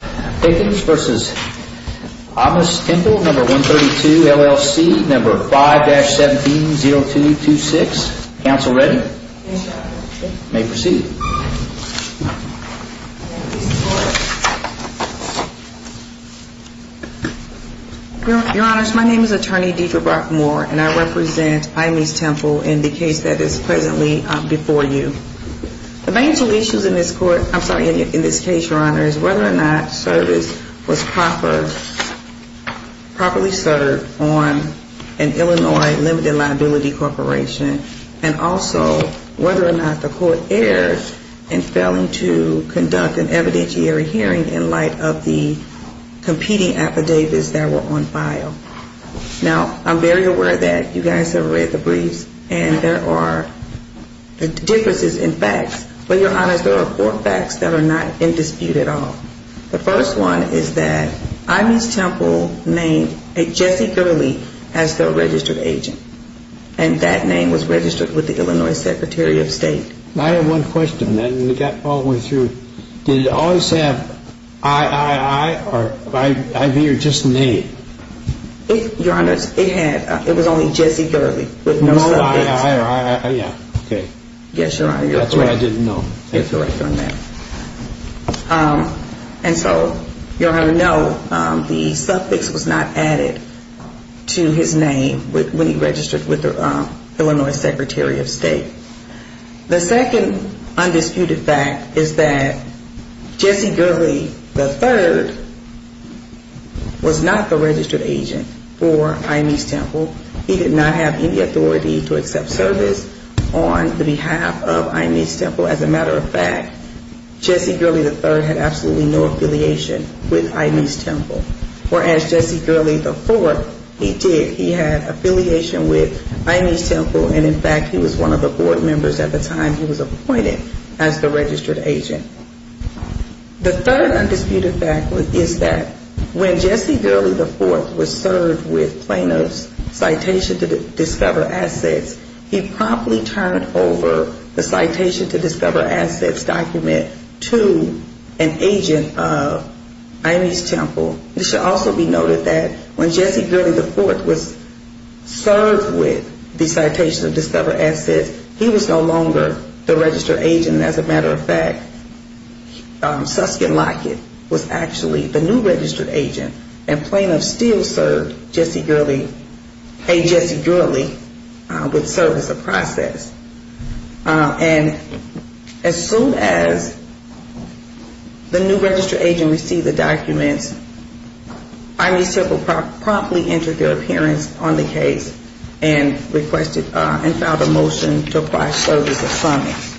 5-170226. Counsel ready? You may proceed. Your Honors, my name is Attorney Deidre Brockmore and I represent Aahmes Temple in the case that is presently before you. The main two issues in this court, I'm sorry, in this case, Your Honor, is whether or not service was properly served on an Illinois limited liability corporation and also whether or not the court erred in failing to conduct an evidentiary hearing in light of the competing affidavits that were on file. Now, I'm very aware that you guys have read the briefs and there are differences in facts, but Your Honors, there are four facts that are not in dispute at all. The first one is that Aahmes Temple named a Jesse Gurley as their registered agent and that name was registered with the Illinois Secretary of State. I have one question and we got all the way through. Did it always have I-I-I or I-V or just name? Your Honors, it had, it was only Jesse Gurley with no suffix. No I-I-I or I-I-I, okay. Yes, Your Honor. That's what I didn't know. You're correct on that. And so, Your Honor, no, the suffix was not added to his name when he registered with the Illinois Secretary of State. The second undisputed fact is that Jesse Gurley III was not the registered agent for Aahmes Temple. He did not have any authority to accept service on behalf of Aahmes Temple. As a matter of fact, Jesse Gurley III had absolutely no affiliation with Aahmes Temple. Whereas Jesse Gurley IV, he did. He had affiliation with Aahmes Temple and, in fact, he was one of the board members at the time he was appointed as the registered agent. The third undisputed fact is that when Jesse Gurley IV was served with Plano's Citation to Discover Assets, he promptly turned over the Citation to Discover Assets document to an agent of Aahmes Temple. It should also be noted that when Jesse Gurley IV was served with the Citation to Discover Assets, he was no longer the registered agent. As a matter of fact, Susskind Lockett was actually the new registered agent, and Plano still served Jesse Gurley, Hey Jesse Gurley, with service of process. And as soon as the new registered agent received the documents, Aahmes Temple promptly entered their appearance on the case and requested and filed a motion to apply service of summons.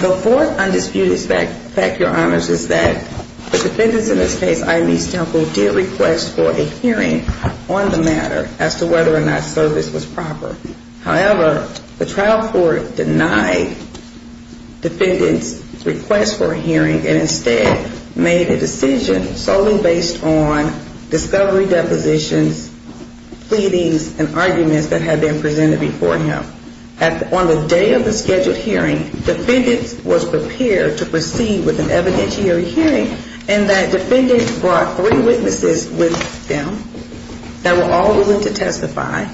The fourth undisputed fact, Your Honors, is that the defendants in this case, Aahmes Temple, did request for a hearing on the matter as to whether or not service was proper. However, the trial court denied defendants' request for a hearing and instead made a decision solely based on discovery depositions, pleadings, and arguments that had been presented before him. On the day of the scheduled hearing, defendants was prepared to proceed with an evidentiary hearing in that defendants brought three witnesses with them that were all willing to testify,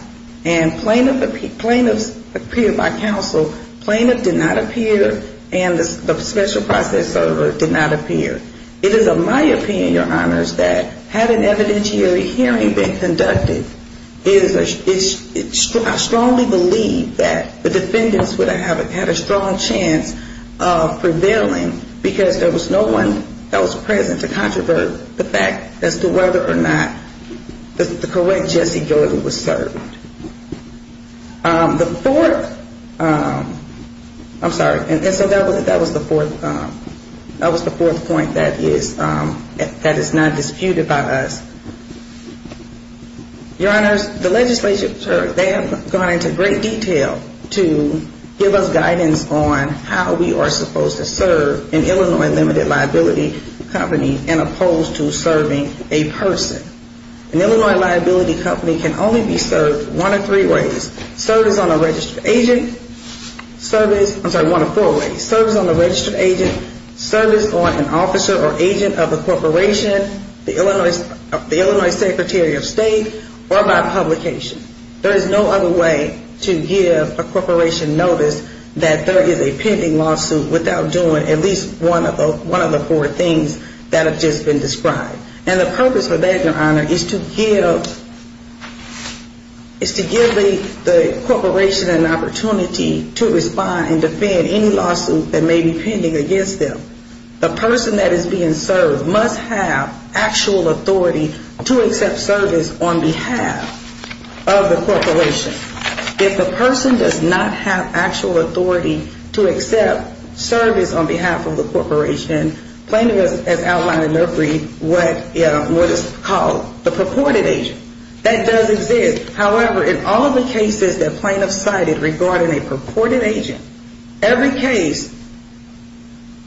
and plaintiffs appeared by counsel. Plaintiffs did not appear, and the special process server did not appear. It is of my opinion, Your Honors, that had an evidentiary hearing been conducted, I strongly believe that the defendants would have had a strong chance of prevailing because there was no one else present to controvert the fact as to whether or not the correct Jesse Jordan was served. The fourth, I'm sorry, and so that was the fourth point that is not disputed by us. Your Honors, the legislature, they have gone into great detail to give us guidance on how we are supposed to serve an Illinois limited liability company as opposed to serving a person. An Illinois liability company can only be served one of three ways. Served as on a registered agent, serviced, I'm sorry, one of four ways. Served as on a registered agent, serviced on an officer or agent of a corporation, the Illinois Secretary of State, or by publication. There is no other way to give a corporation notice that there is a pending lawsuit without doing at least one of the four things that have just been described. And the purpose of that, Your Honor, is to give the corporation an opportunity to respond and defend any lawsuit that may be pending against them. The person that is being served must have actual authority to accept service on behalf of the corporation. If the person does not have actual authority to accept service on behalf of the corporation, plaintiff has outlined in their brief what is called the purported agent. That does exist. However, in all of the cases that plaintiffs cited regarding a purported agent, every case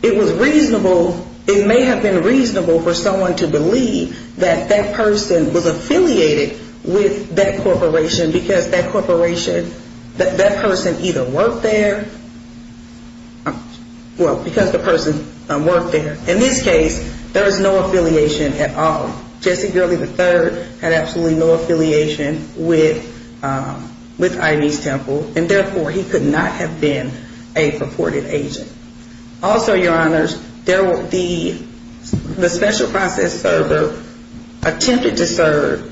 it was reasonable, it may have been reasonable for someone to believe that that person was affiliated with that corporation because that corporation, that person either worked there, well, because the person worked there. In this case, there is no affiliation at all. Jesse Gurley III had absolutely no affiliation with Ivy's Temple, and therefore he could not have been a purported agent. Also, Your Honors, the special process server attempted to serve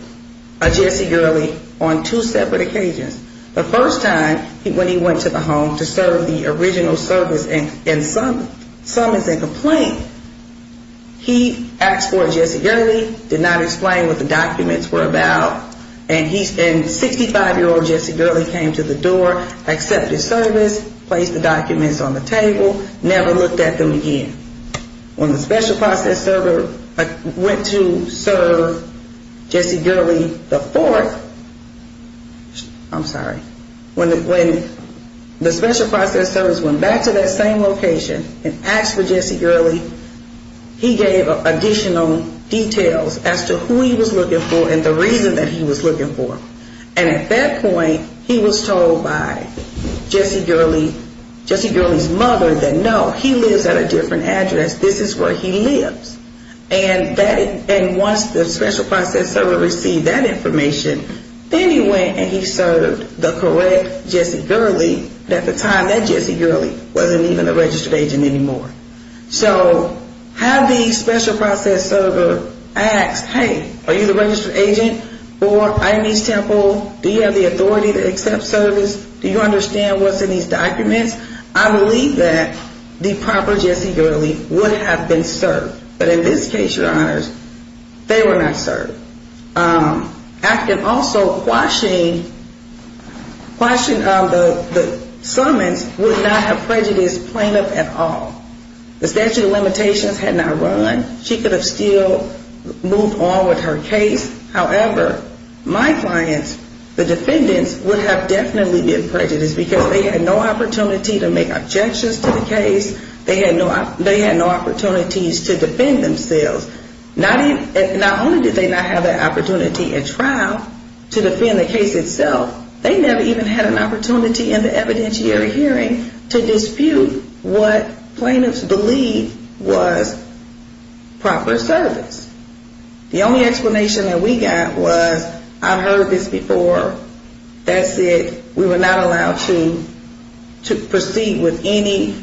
Jesse Gurley on two separate occasions. The first time when he went to the home to serve the original service, and some is in complaint, he asked for Jesse Gurley, did not explain what the documents were about, and 65-year-old Jesse Gurley came to the door, accepted service, placed the documents on the table, never looked at them again. When the special process server went to serve Jesse Gurley IV, I'm sorry, when the special process servers went back to that same location and asked for Jesse Gurley, he gave additional details as to who he was looking for and the reason that he was looking for. And at that point, he was told by Jesse Gurley's mother that no, he lives at a different address. This is where he lives. And once the special process server received that information, then he went and he served the correct Jesse Gurley. At the time, that Jesse Gurley wasn't even a registered agent anymore. So had the special process server asked, hey, are you the registered agent for Ionese Temple? Do you have the authority to accept service? Do you understand what's in these documents? I believe that the proper Jesse Gurley would have been served. But in this case, Your Honors, they were not served. I can also question the summons would not have prejudiced plaintiff at all. The statute of limitations had not run. She could have still moved on with her case. However, my clients, the defendants, would have definitely been prejudiced because they had no opportunity to make objections to the case. They had no opportunities to defend themselves. Not only did they not have that opportunity at trial to defend the case itself, they never even had an opportunity in the evidentiary hearing to dispute what plaintiffs believed was proper service. The only explanation that we got was I've heard this before. That said, we were not allowed to proceed with any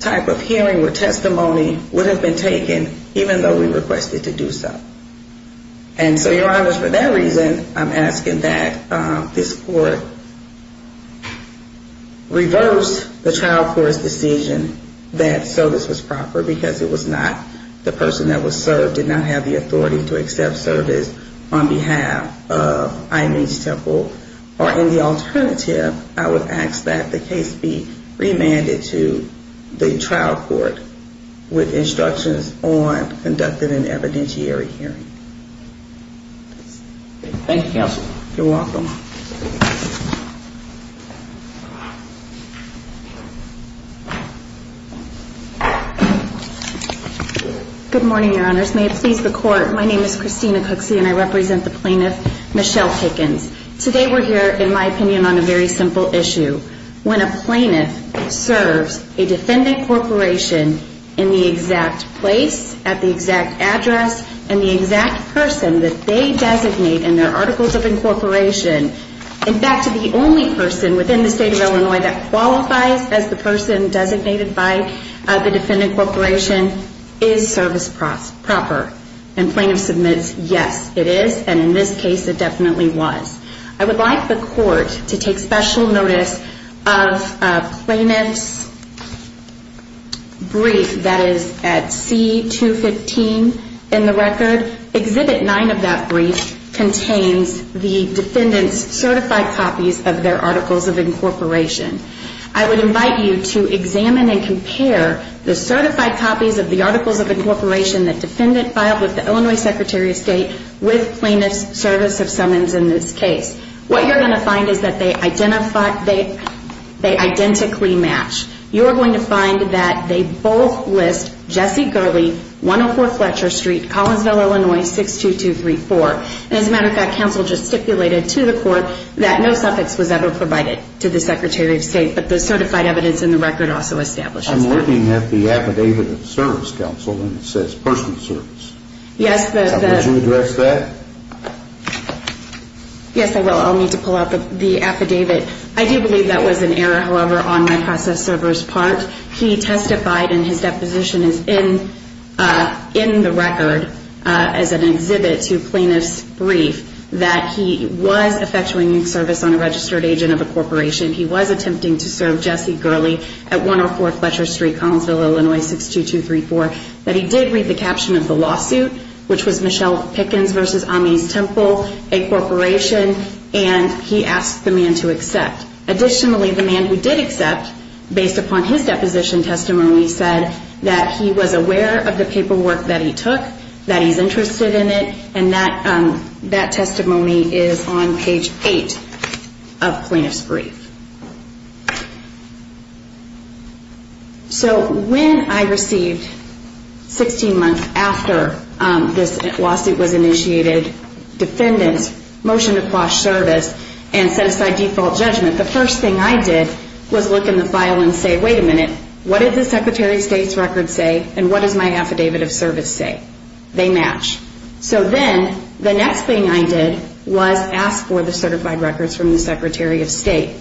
type of hearing where testimony would have been taken even though we requested to do so. And so, Your Honors, for that reason, I'm asking that this court reverse the trial court's decision that service was proper because it was not the person that was served did not have the authority to accept service on behalf of Ionese Temple. Or in the alternative, I would ask that the case be remanded to the trial court with instructions on conducting an evidentiary hearing. Thank you, Counsel. You're welcome. Good morning, Your Honors. May it please the Court, my name is Christina Cooksey and I represent the plaintiff, Michelle Pickens. Today we're here, in my opinion, on a very simple issue. When a plaintiff serves a defendant corporation in the exact place, at the exact address, and the exact person that they designate in their Articles of Incorporation, in fact, the only person within the State of Illinois that qualifies as the person designated by the defendant corporation is service proper. And plaintiff submits, yes, it is, and in this case, it definitely was. I would like the Court to take special notice of a plaintiff's brief that is at C215 in the record. Exhibit 9 of that brief contains the defendant's certified copies of their Articles of Incorporation. I would invite you to examine and compare the certified copies of the Articles of Incorporation that defendant filed with the Illinois Secretary of State with plaintiff's service of summons in this case. What you're going to find is that they identically match. You're going to find that they both list Jesse Gurley, 104 Fletcher Street, Collinsville, Illinois, 62234. As a matter of fact, counsel just stipulated to the Court that no suffix was ever provided to the Secretary of State, but the certified evidence in the record also establishes that. I'm looking at the affidavit of service, counsel, and it says personal service. Yes, the... Would you address that? Yes, I will. I'll need to pull out the affidavit. I do believe that was an error, however, on my process server's part. He testified, and his deposition is in the record as an exhibit to plaintiff's brief, that he was effectuating service on a registered agent of a corporation. He was attempting to serve Jesse Gurley at 104 Fletcher Street, Collinsville, Illinois, 62234. But he did read the caption of the lawsuit, which was Michelle Pickens v. Amis Temple, a corporation, and he asked the man to accept. Additionally, the man who did accept, based upon his deposition testimony, said that he was aware of the paperwork that he took, that he's interested in it, and that testimony is on page 8 of plaintiff's brief. So when I received, 16 months after this lawsuit was initiated, defendant's motion to quash service and set aside default judgment, the first thing I did was look in the file and say, wait a minute, what did the Secretary of State's record say, and what does my affidavit of service say? They match. So then, the next thing I did was ask for the certified records from the Secretary of State.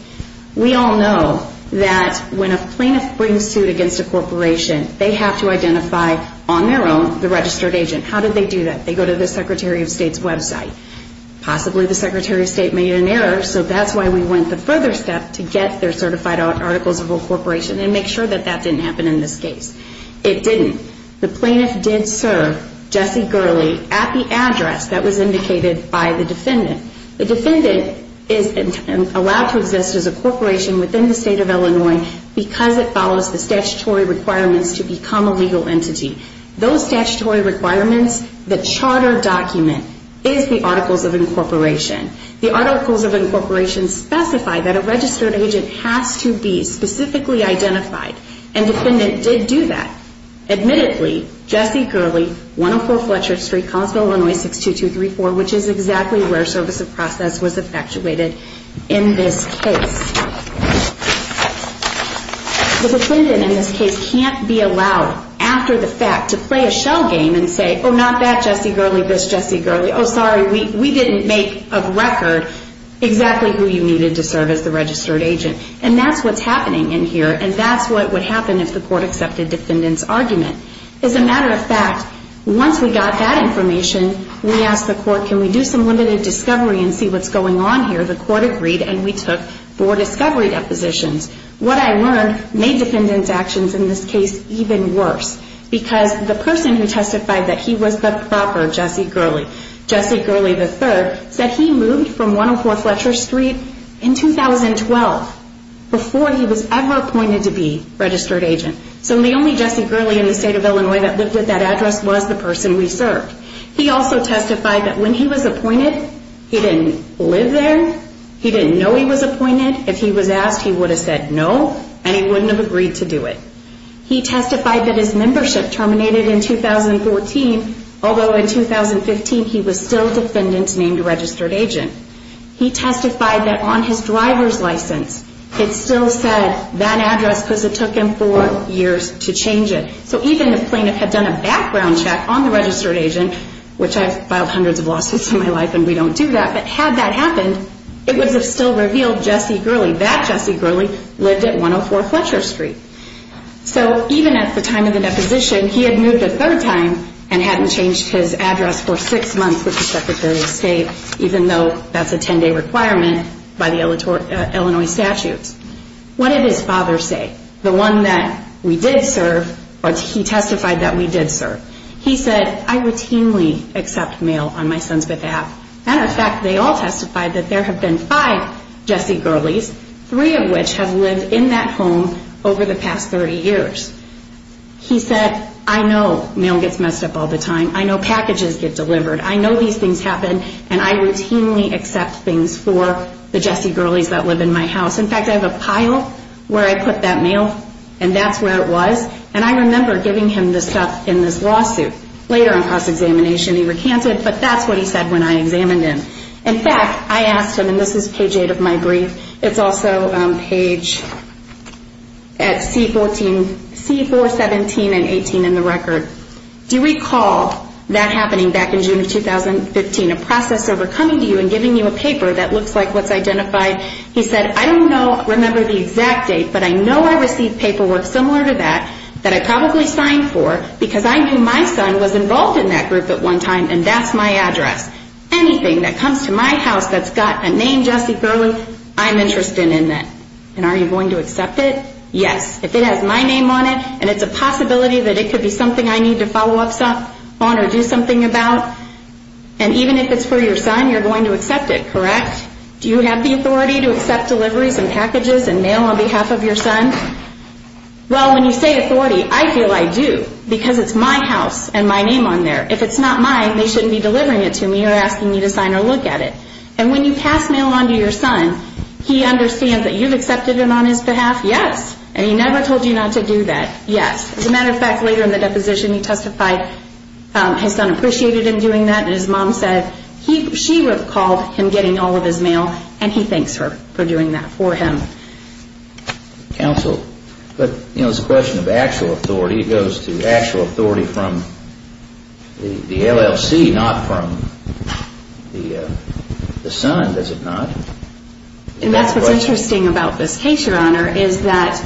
We all know that when a plaintiff brings suit against a corporation, they have to identify, on their own, the registered agent. How do they do that? They go to the Secretary of State's website. Possibly the Secretary of State made an error, so that's why we went the further step to get their certified articles of a corporation and make sure that that didn't happen in this case. It didn't. The plaintiff did serve Jesse Gurley at the address that was indicated by the defendant. The defendant is allowed to exist as a corporation within the State of Illinois because it follows the statutory requirements to become a legal entity. Those statutory requirements, the charter document is the articles of incorporation. The articles of incorporation specify that a registered agent has to be specifically identified, and the defendant did do that. Admittedly, Jesse Gurley, 104 Fletcher Street, Collinsville, Illinois, 62234, which is exactly where service of process was effectuated in this case. The defendant, in this case, can't be allowed, after the fact, to play a shell game and say, oh, not that Jesse Gurley, this Jesse Gurley, oh, sorry, we didn't make a record exactly who you needed to serve as the registered agent. And that's what's happening in here, and that's what would happen if the court accepted defendant's argument. As a matter of fact, once we got that information, we asked the court, can we do some limited discovery and see what's going on here? The court agreed, and we took four discovery depositions. What I learned made defendant's actions in this case even worse, because the person who testified that he was the proper Jesse Gurley, Jesse Gurley III, said he moved from 104 Fletcher Street in 2012 before he was ever appointed to be registered agent. So the only Jesse Gurley in the state of Illinois that lived at that address was the person we served. He also testified that when he was appointed, he didn't live there, he didn't know he was appointed. If he was asked, he would have said no, and he wouldn't have agreed to do it. He testified that his membership terminated in 2014, although in 2015 he was still defendant's named registered agent. He testified that on his driver's license, it still said that address, because it took him four years to change it. So even if the plaintiff had done a background check on the registered agent, which I've filed hundreds of lawsuits in my life and we don't do that, but had that happened, it would have still revealed Jesse Gurley. That Jesse Gurley lived at 104 Fletcher Street. So even at the time of the deposition, he had moved a third time and hadn't changed his address for six months with the Secretary of State, even though that's a 10-day requirement by the Illinois statutes. What did his father say? The one that we did serve, or he testified that we did serve. He said, I routinely accept mail on my Sons With App. And in fact, they all testified that there have been five Jesse Gurleys, three of which have lived in that home over the past 30 years. He said, I know mail gets messed up all the time. I know packages get delivered. I know these things happen, and I routinely accept things for the Jesse Gurleys that live in my house. In fact, I have a pile where I put that mail, and that's where it was. And I remember giving him the stuff in this lawsuit. Later in cross-examination, he recanted, but that's what he said when I examined him. In fact, I asked him, and this is page 8 of my brief. It's also page at C417 and 18 in the record. Do you recall that happening back in June of 2015, a process over coming to you and giving you a paper that looks like what's identified? He said, I don't remember the exact date, but I know I received paperwork similar to that that I probably signed for because I knew my son was involved in that group at one time, and that's my address. Anything that comes to my house that's got a name Jesse Gurley, I'm interested in that. And are you going to accept it? Yes. If it has my name on it, and it's a possibility that it could be something I need to follow up on or do something about, and even if it's for your son, you're going to accept it, correct? Do you have the authority to accept deliveries and packages and mail on behalf of your son? Well, when you say authority, I feel I do because it's my house and my name on there. If it's not mine, they shouldn't be delivering it to me or asking me to sign or look at it. And when you pass mail on to your son, he understands that you've accepted it on his behalf? Yes. And he never told you not to do that? Yes. As a matter of fact, later in the deposition, he testified his son appreciated him doing that, and his mom said she recalled him getting all of his mail, and he thanks her for doing that for him. Counsel, but it's a question of actual authority. It goes to actual authority from the LLC, not from the son, does it not? And that's what's interesting about this case, Your Honor, is that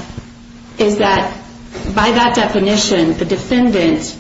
by that definition, the defendant,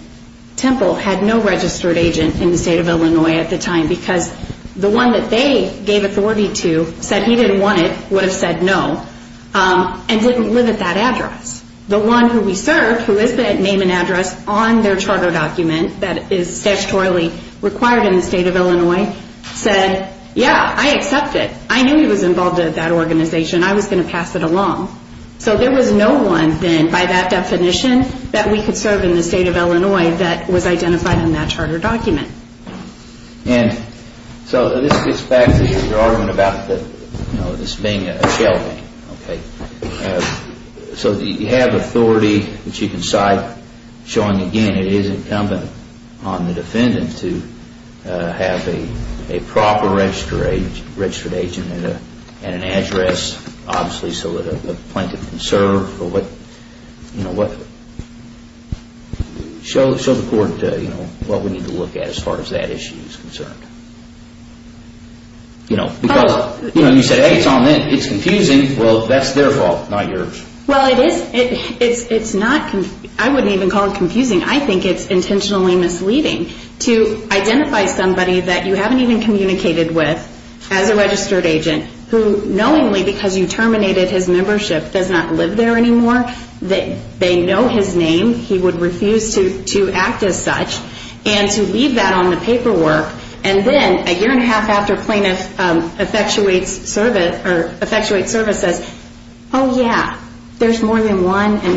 Temple, had no registered agent in the state of Illinois at the time because the one that they gave authority to said he didn't want it, would have said no, and didn't live at that address. The one who we served, who is the name and address on their charter document that is statutorily required in the state of Illinois, said, yeah, I accept it. I knew he was involved at that organization. I was going to pass it along. So there was no one then, by that definition, that we could serve in the state of Illinois that was identified in that charter document. And so this gets back to your argument about this being a shelving. Okay. So you have authority which you can cite, showing, again, it is incumbent on the defendant to have a proper registered agent and an address, obviously, so that a plaintiff can serve. Show the court what we need to look at as far as that issue is concerned. You know, you said, hey, it's on them. It's confusing. Well, that's their fault, not yours. Well, it is. I wouldn't even call it confusing. I think it's intentionally misleading to identify somebody that you haven't even communicated with as a registered agent who knowingly, because you terminated his membership, does not live there anymore, they know his name, he would refuse to act as such, and to leave that on the paperwork. And then a year and a half after plaintiff effectuates service says, oh, yeah, there's more than one, and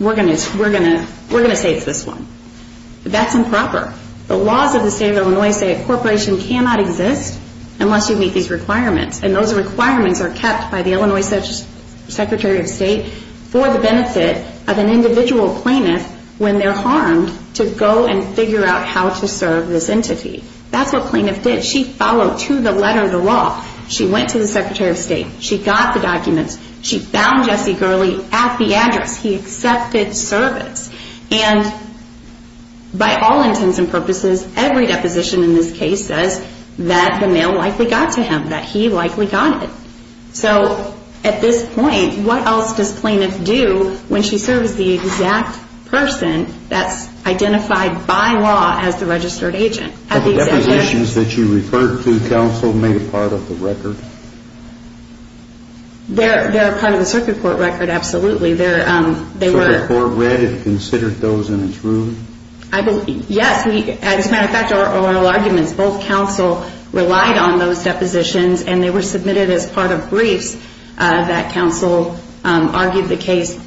we're going to say it's this one. That's improper. The laws of the state of Illinois say a corporation cannot exist unless you meet these requirements. And those requirements are kept by the Illinois Secretary of State for the benefit of an individual plaintiff when they're harmed to go and figure out how to serve this entity. That's what plaintiff did. She followed to the letter of the law. She went to the Secretary of State. She got the documents. She found Jesse Gurley at the address. He accepted service. And by all intents and purposes, every deposition in this case says that the mail likely got to him, that he likely got it. So at this point, what else does plaintiff do when she serves the exact person that's identified by law as the registered agent? Are the depositions that you referred to counsel made part of the record? They're part of the circuit court record, absolutely. Circuit court read and considered those in its room? Yes. As a matter of fact, our oral arguments, both counsel relied on those depositions, and they were submitted as part of briefs that counsel argued the case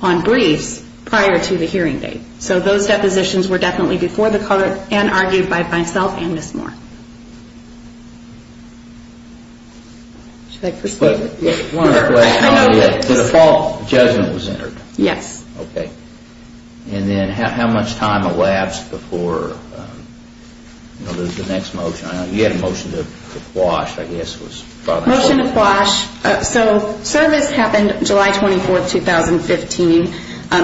on briefs prior to the hearing date. So those depositions were definitely before the court and argued by myself and Ms. Moore. Should I proceed? The default judgment was entered? Yes. Okay. And then how much time elapsed before the next motion? You had a motion to quash, I guess. Motion to quash. So service happened July 24, 2015.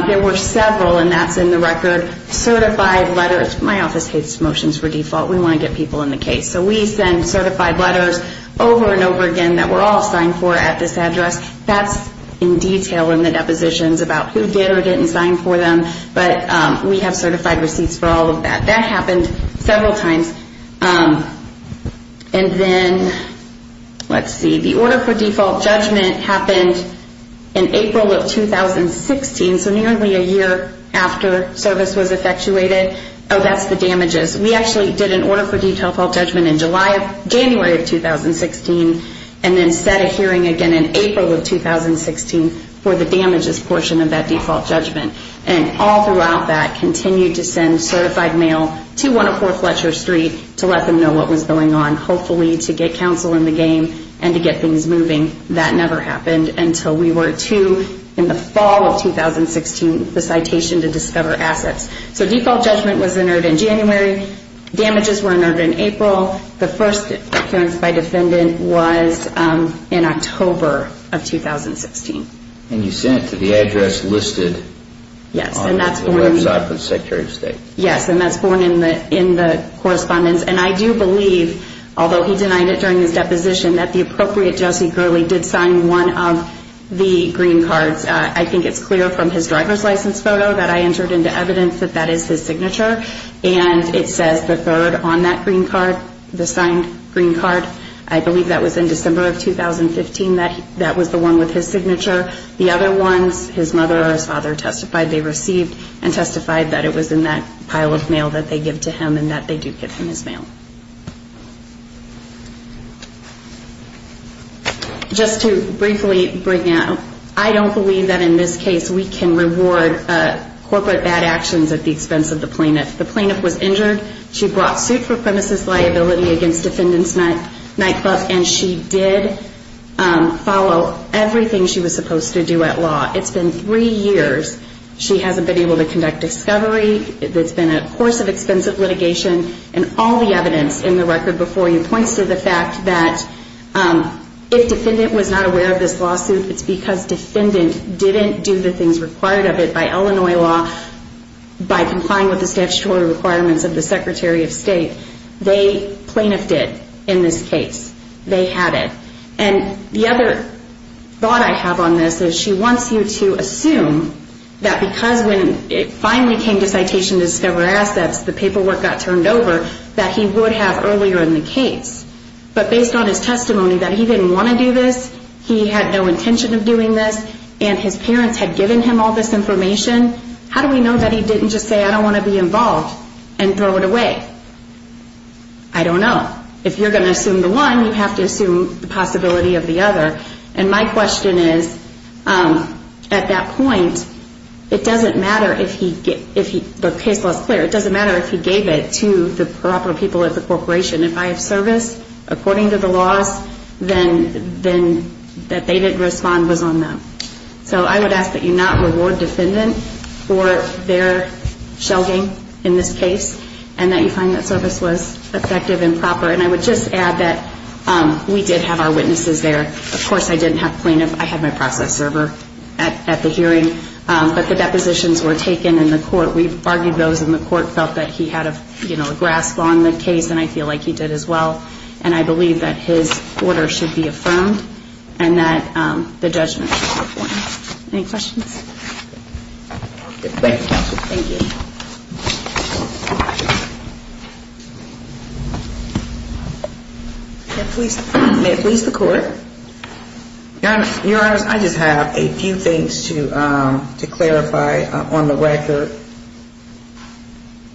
There were several, and that's in the record, certified letters. My office hates motions for default. We want to get people in the case. So we send certified letters over and over again that were all signed for at this address. That's in detail in the depositions about who did or didn't sign for them, but we have certified receipts for all of that. That happened several times. And then, let's see, the order for default judgment happened in April of 2016, so nearly a year after service was effectuated. Oh, that's the damages. We actually did an order for default judgment in January of 2016 and then set a hearing again in April of 2016 for the damages portion of that default judgment. And all throughout that, continued to send certified mail to 104 Fletcher Street to let them know what was going on, hopefully to get counsel in the game and to get things moving. That never happened until we were to, in the fall of 2016, the citation to discover assets. So default judgment was entered in January. Damages were entered in April. The first appearance by defendant was in October of 2016. And you sent it to the address listed on the website for the Secretary of State. Yes, and that's born in the correspondence. And I do believe, although he denied it during his deposition, that the appropriate Jesse Gurley did sign one of the green cards. I think it's clear from his driver's license photo that I entered into evidence that that is his signature, and it says the third on that green card, the signed green card. I believe that was in December of 2015, that was the one with his signature. The other ones, his mother or his father testified they received and testified that it was in that pile of mail that they give to him and that they do get from his mail. Just to briefly bring out, I don't believe that in this case we can reward corporate bad actions at the expense of the plaintiff. The plaintiff was injured. She brought suit for premises liability against Defendant's Nightclub, and she did follow everything she was supposed to do at law. It's been three years. She hasn't been able to conduct discovery. It's been a course of expensive litigation. And all the evidence in the record before you points to the fact that if defendant was not aware of this lawsuit, it's because defendant didn't do the things required of it by Illinois law, by complying with the statutory requirements of the Secretary of State. They plaintiffed it in this case. They had it. And the other thought I have on this is she wants you to assume that because when it finally came to citation to discover assets, the paperwork got turned over, that he would have earlier in the case. But based on his testimony that he didn't want to do this, he had no intention of doing this, and his parents had given him all this information, how do we know that he didn't just say, I don't want to be involved and throw it away? I don't know. If you're going to assume the one, you have to assume the possibility of the other. And my question is, at that point, it doesn't matter if the case was clear. It doesn't matter if he gave it to the proper people at the corporation. If I have service according to the laws, then that they didn't respond was on them. So I would ask that you not reward defendant for their shelving in this case and that you find that service was effective and proper. And I would just add that we did have our witnesses there. Of course, I didn't have plaintiff. I had my process server at the hearing. But the depositions were taken in the court. We've argued those in the court felt that he had a grasp on the case, and I feel like he did as well. And I believe that his order should be affirmed and that the judgment should be appointed. Any questions? Thank you. May it please the Court. Your Honor, I just have a few things to clarify on the record.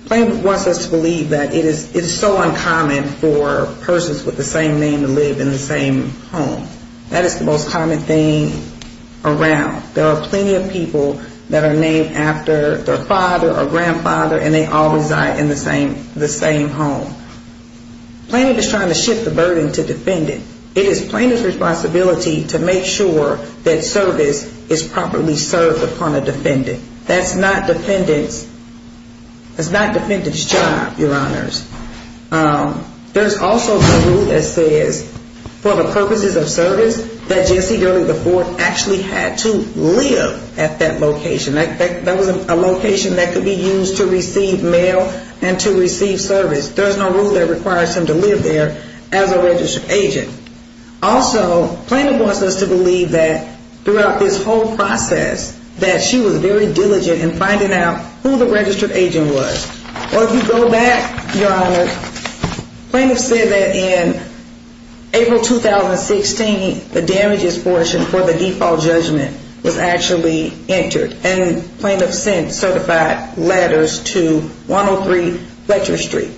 Plaintiff wants us to believe that it is so uncommon for persons with the same name to live in the same home. That is the most common thing around. There are plenty of people that are named after their father or grandfather, and they all reside in the same home. Plaintiff is trying to shift the burden to defendant. It is plaintiff's responsibility to make sure that service is properly served upon a defendant. That's not defendant's job, Your Honors. There's also the rule that says for the purposes of service, that Jesse Durden IV actually had to live at that location. That was a location that could be used to receive mail and to receive service. There's no rule that requires him to live there as a registered agent. Also, plaintiff wants us to believe that throughout this whole process that she was very diligent in finding out who the registered agent was. Or if you go back, Your Honor, plaintiff said that in April 2016, the damages portion for the default judgment was actually entered. And plaintiff sent certified letters to 103 Fletcher Street.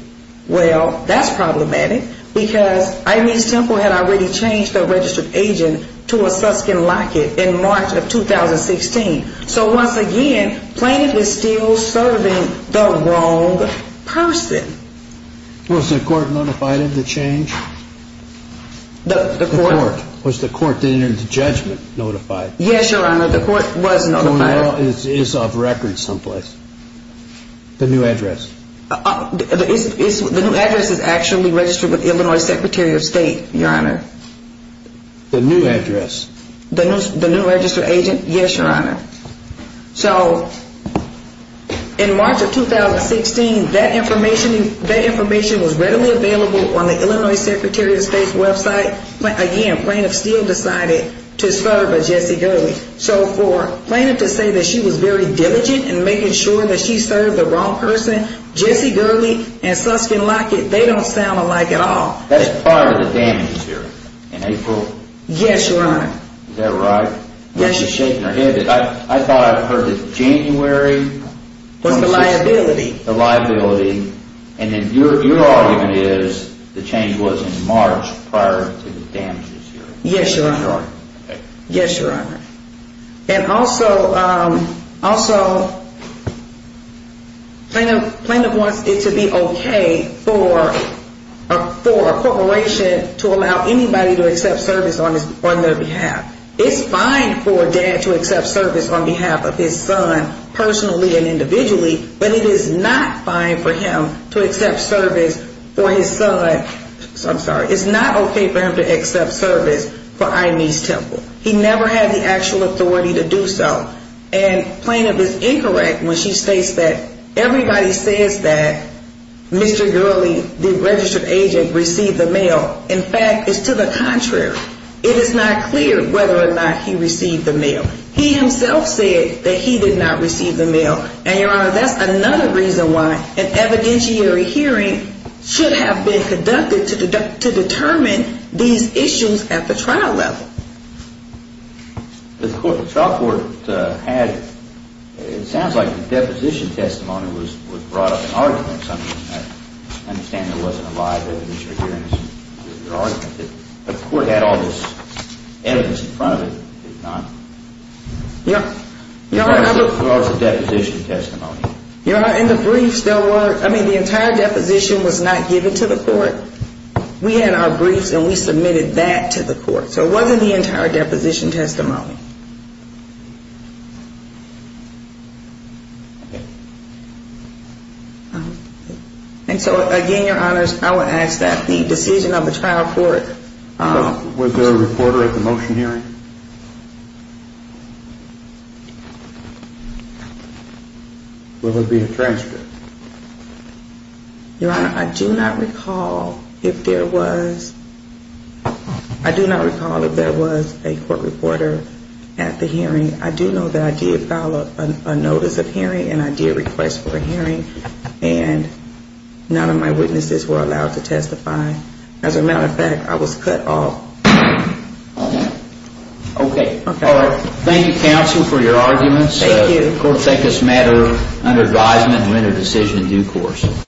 Well, that's problematic because Irene's Temple had already changed their registered agent to a Susskind Lockett in March of 2016. So once again, plaintiff is still serving the wrong person. Was the court notified of the change? The court? Was the court then in the judgment notified? Yes, Your Honor. The court was notified. The mail is off record someplace. The new address. The new address is actually registered with Illinois Secretary of State, Your Honor. The new address. The new registered agent, yes, Your Honor. So in March of 2016, that information was readily available on the Illinois Secretary of State's website. But again, plaintiff still decided to serve a Jessie Gurley. So for plaintiff to say that she was very diligent in making sure that she served the wrong person, Jessie Gurley and Susskind Lockett, they don't sound alike at all. That's part of the damage here in April. Yes, Your Honor. Is that right? Yes, Your Honor. I'm just shaking her head. I thought I heard that January. Was the liability. The liability. And then your argument is the change was in March prior to the damages here. Yes, Your Honor. Okay. Yes, Your Honor. And also, plaintiff wants it to be okay for a corporation to allow anybody to accept service on their behalf. It's fine for a dad to accept service on behalf of his son personally and individually, but it is not fine for him to accept service for his son. I'm sorry. It's not okay for him to accept service for I.M.E.'s Temple. He never had the actual authority to do so. And plaintiff is incorrect when she states that everybody says that Mr. Gurley, the registered agent, received the mail. In fact, it's to the contrary. It is not clear whether or not he received the mail. He himself said that he did not receive the mail. And, Your Honor, that's another reason why an evidentiary hearing should have been conducted to determine these issues at the trial level. The trial court had, it sounds like the deposition testimony was brought up in arguments. I understand there wasn't a live evidentiary hearing. The court had all this evidence in front of it, did it not? Your Honor, I would Or was it deposition testimony? Your Honor, in the briefs there were, I mean, the entire deposition was not given to the court. We had our briefs and we submitted that to the court. So it wasn't the entire deposition testimony. Okay. And so, again, Your Honor, I would ask that the decision of the trial court Was there a reporter at the motion hearing? Will there be a transcript? Your Honor, I do not recall if there was, I do not recall if there was a court reporter at the hearing. I do know that I did file a notice of hearing and I did request for a hearing. And none of my witnesses were allowed to testify. As a matter of fact, I was cut off. Okay. Thank you, counsel, for your arguments. Thank you. The court will take this matter under advisement and render a decision in due course.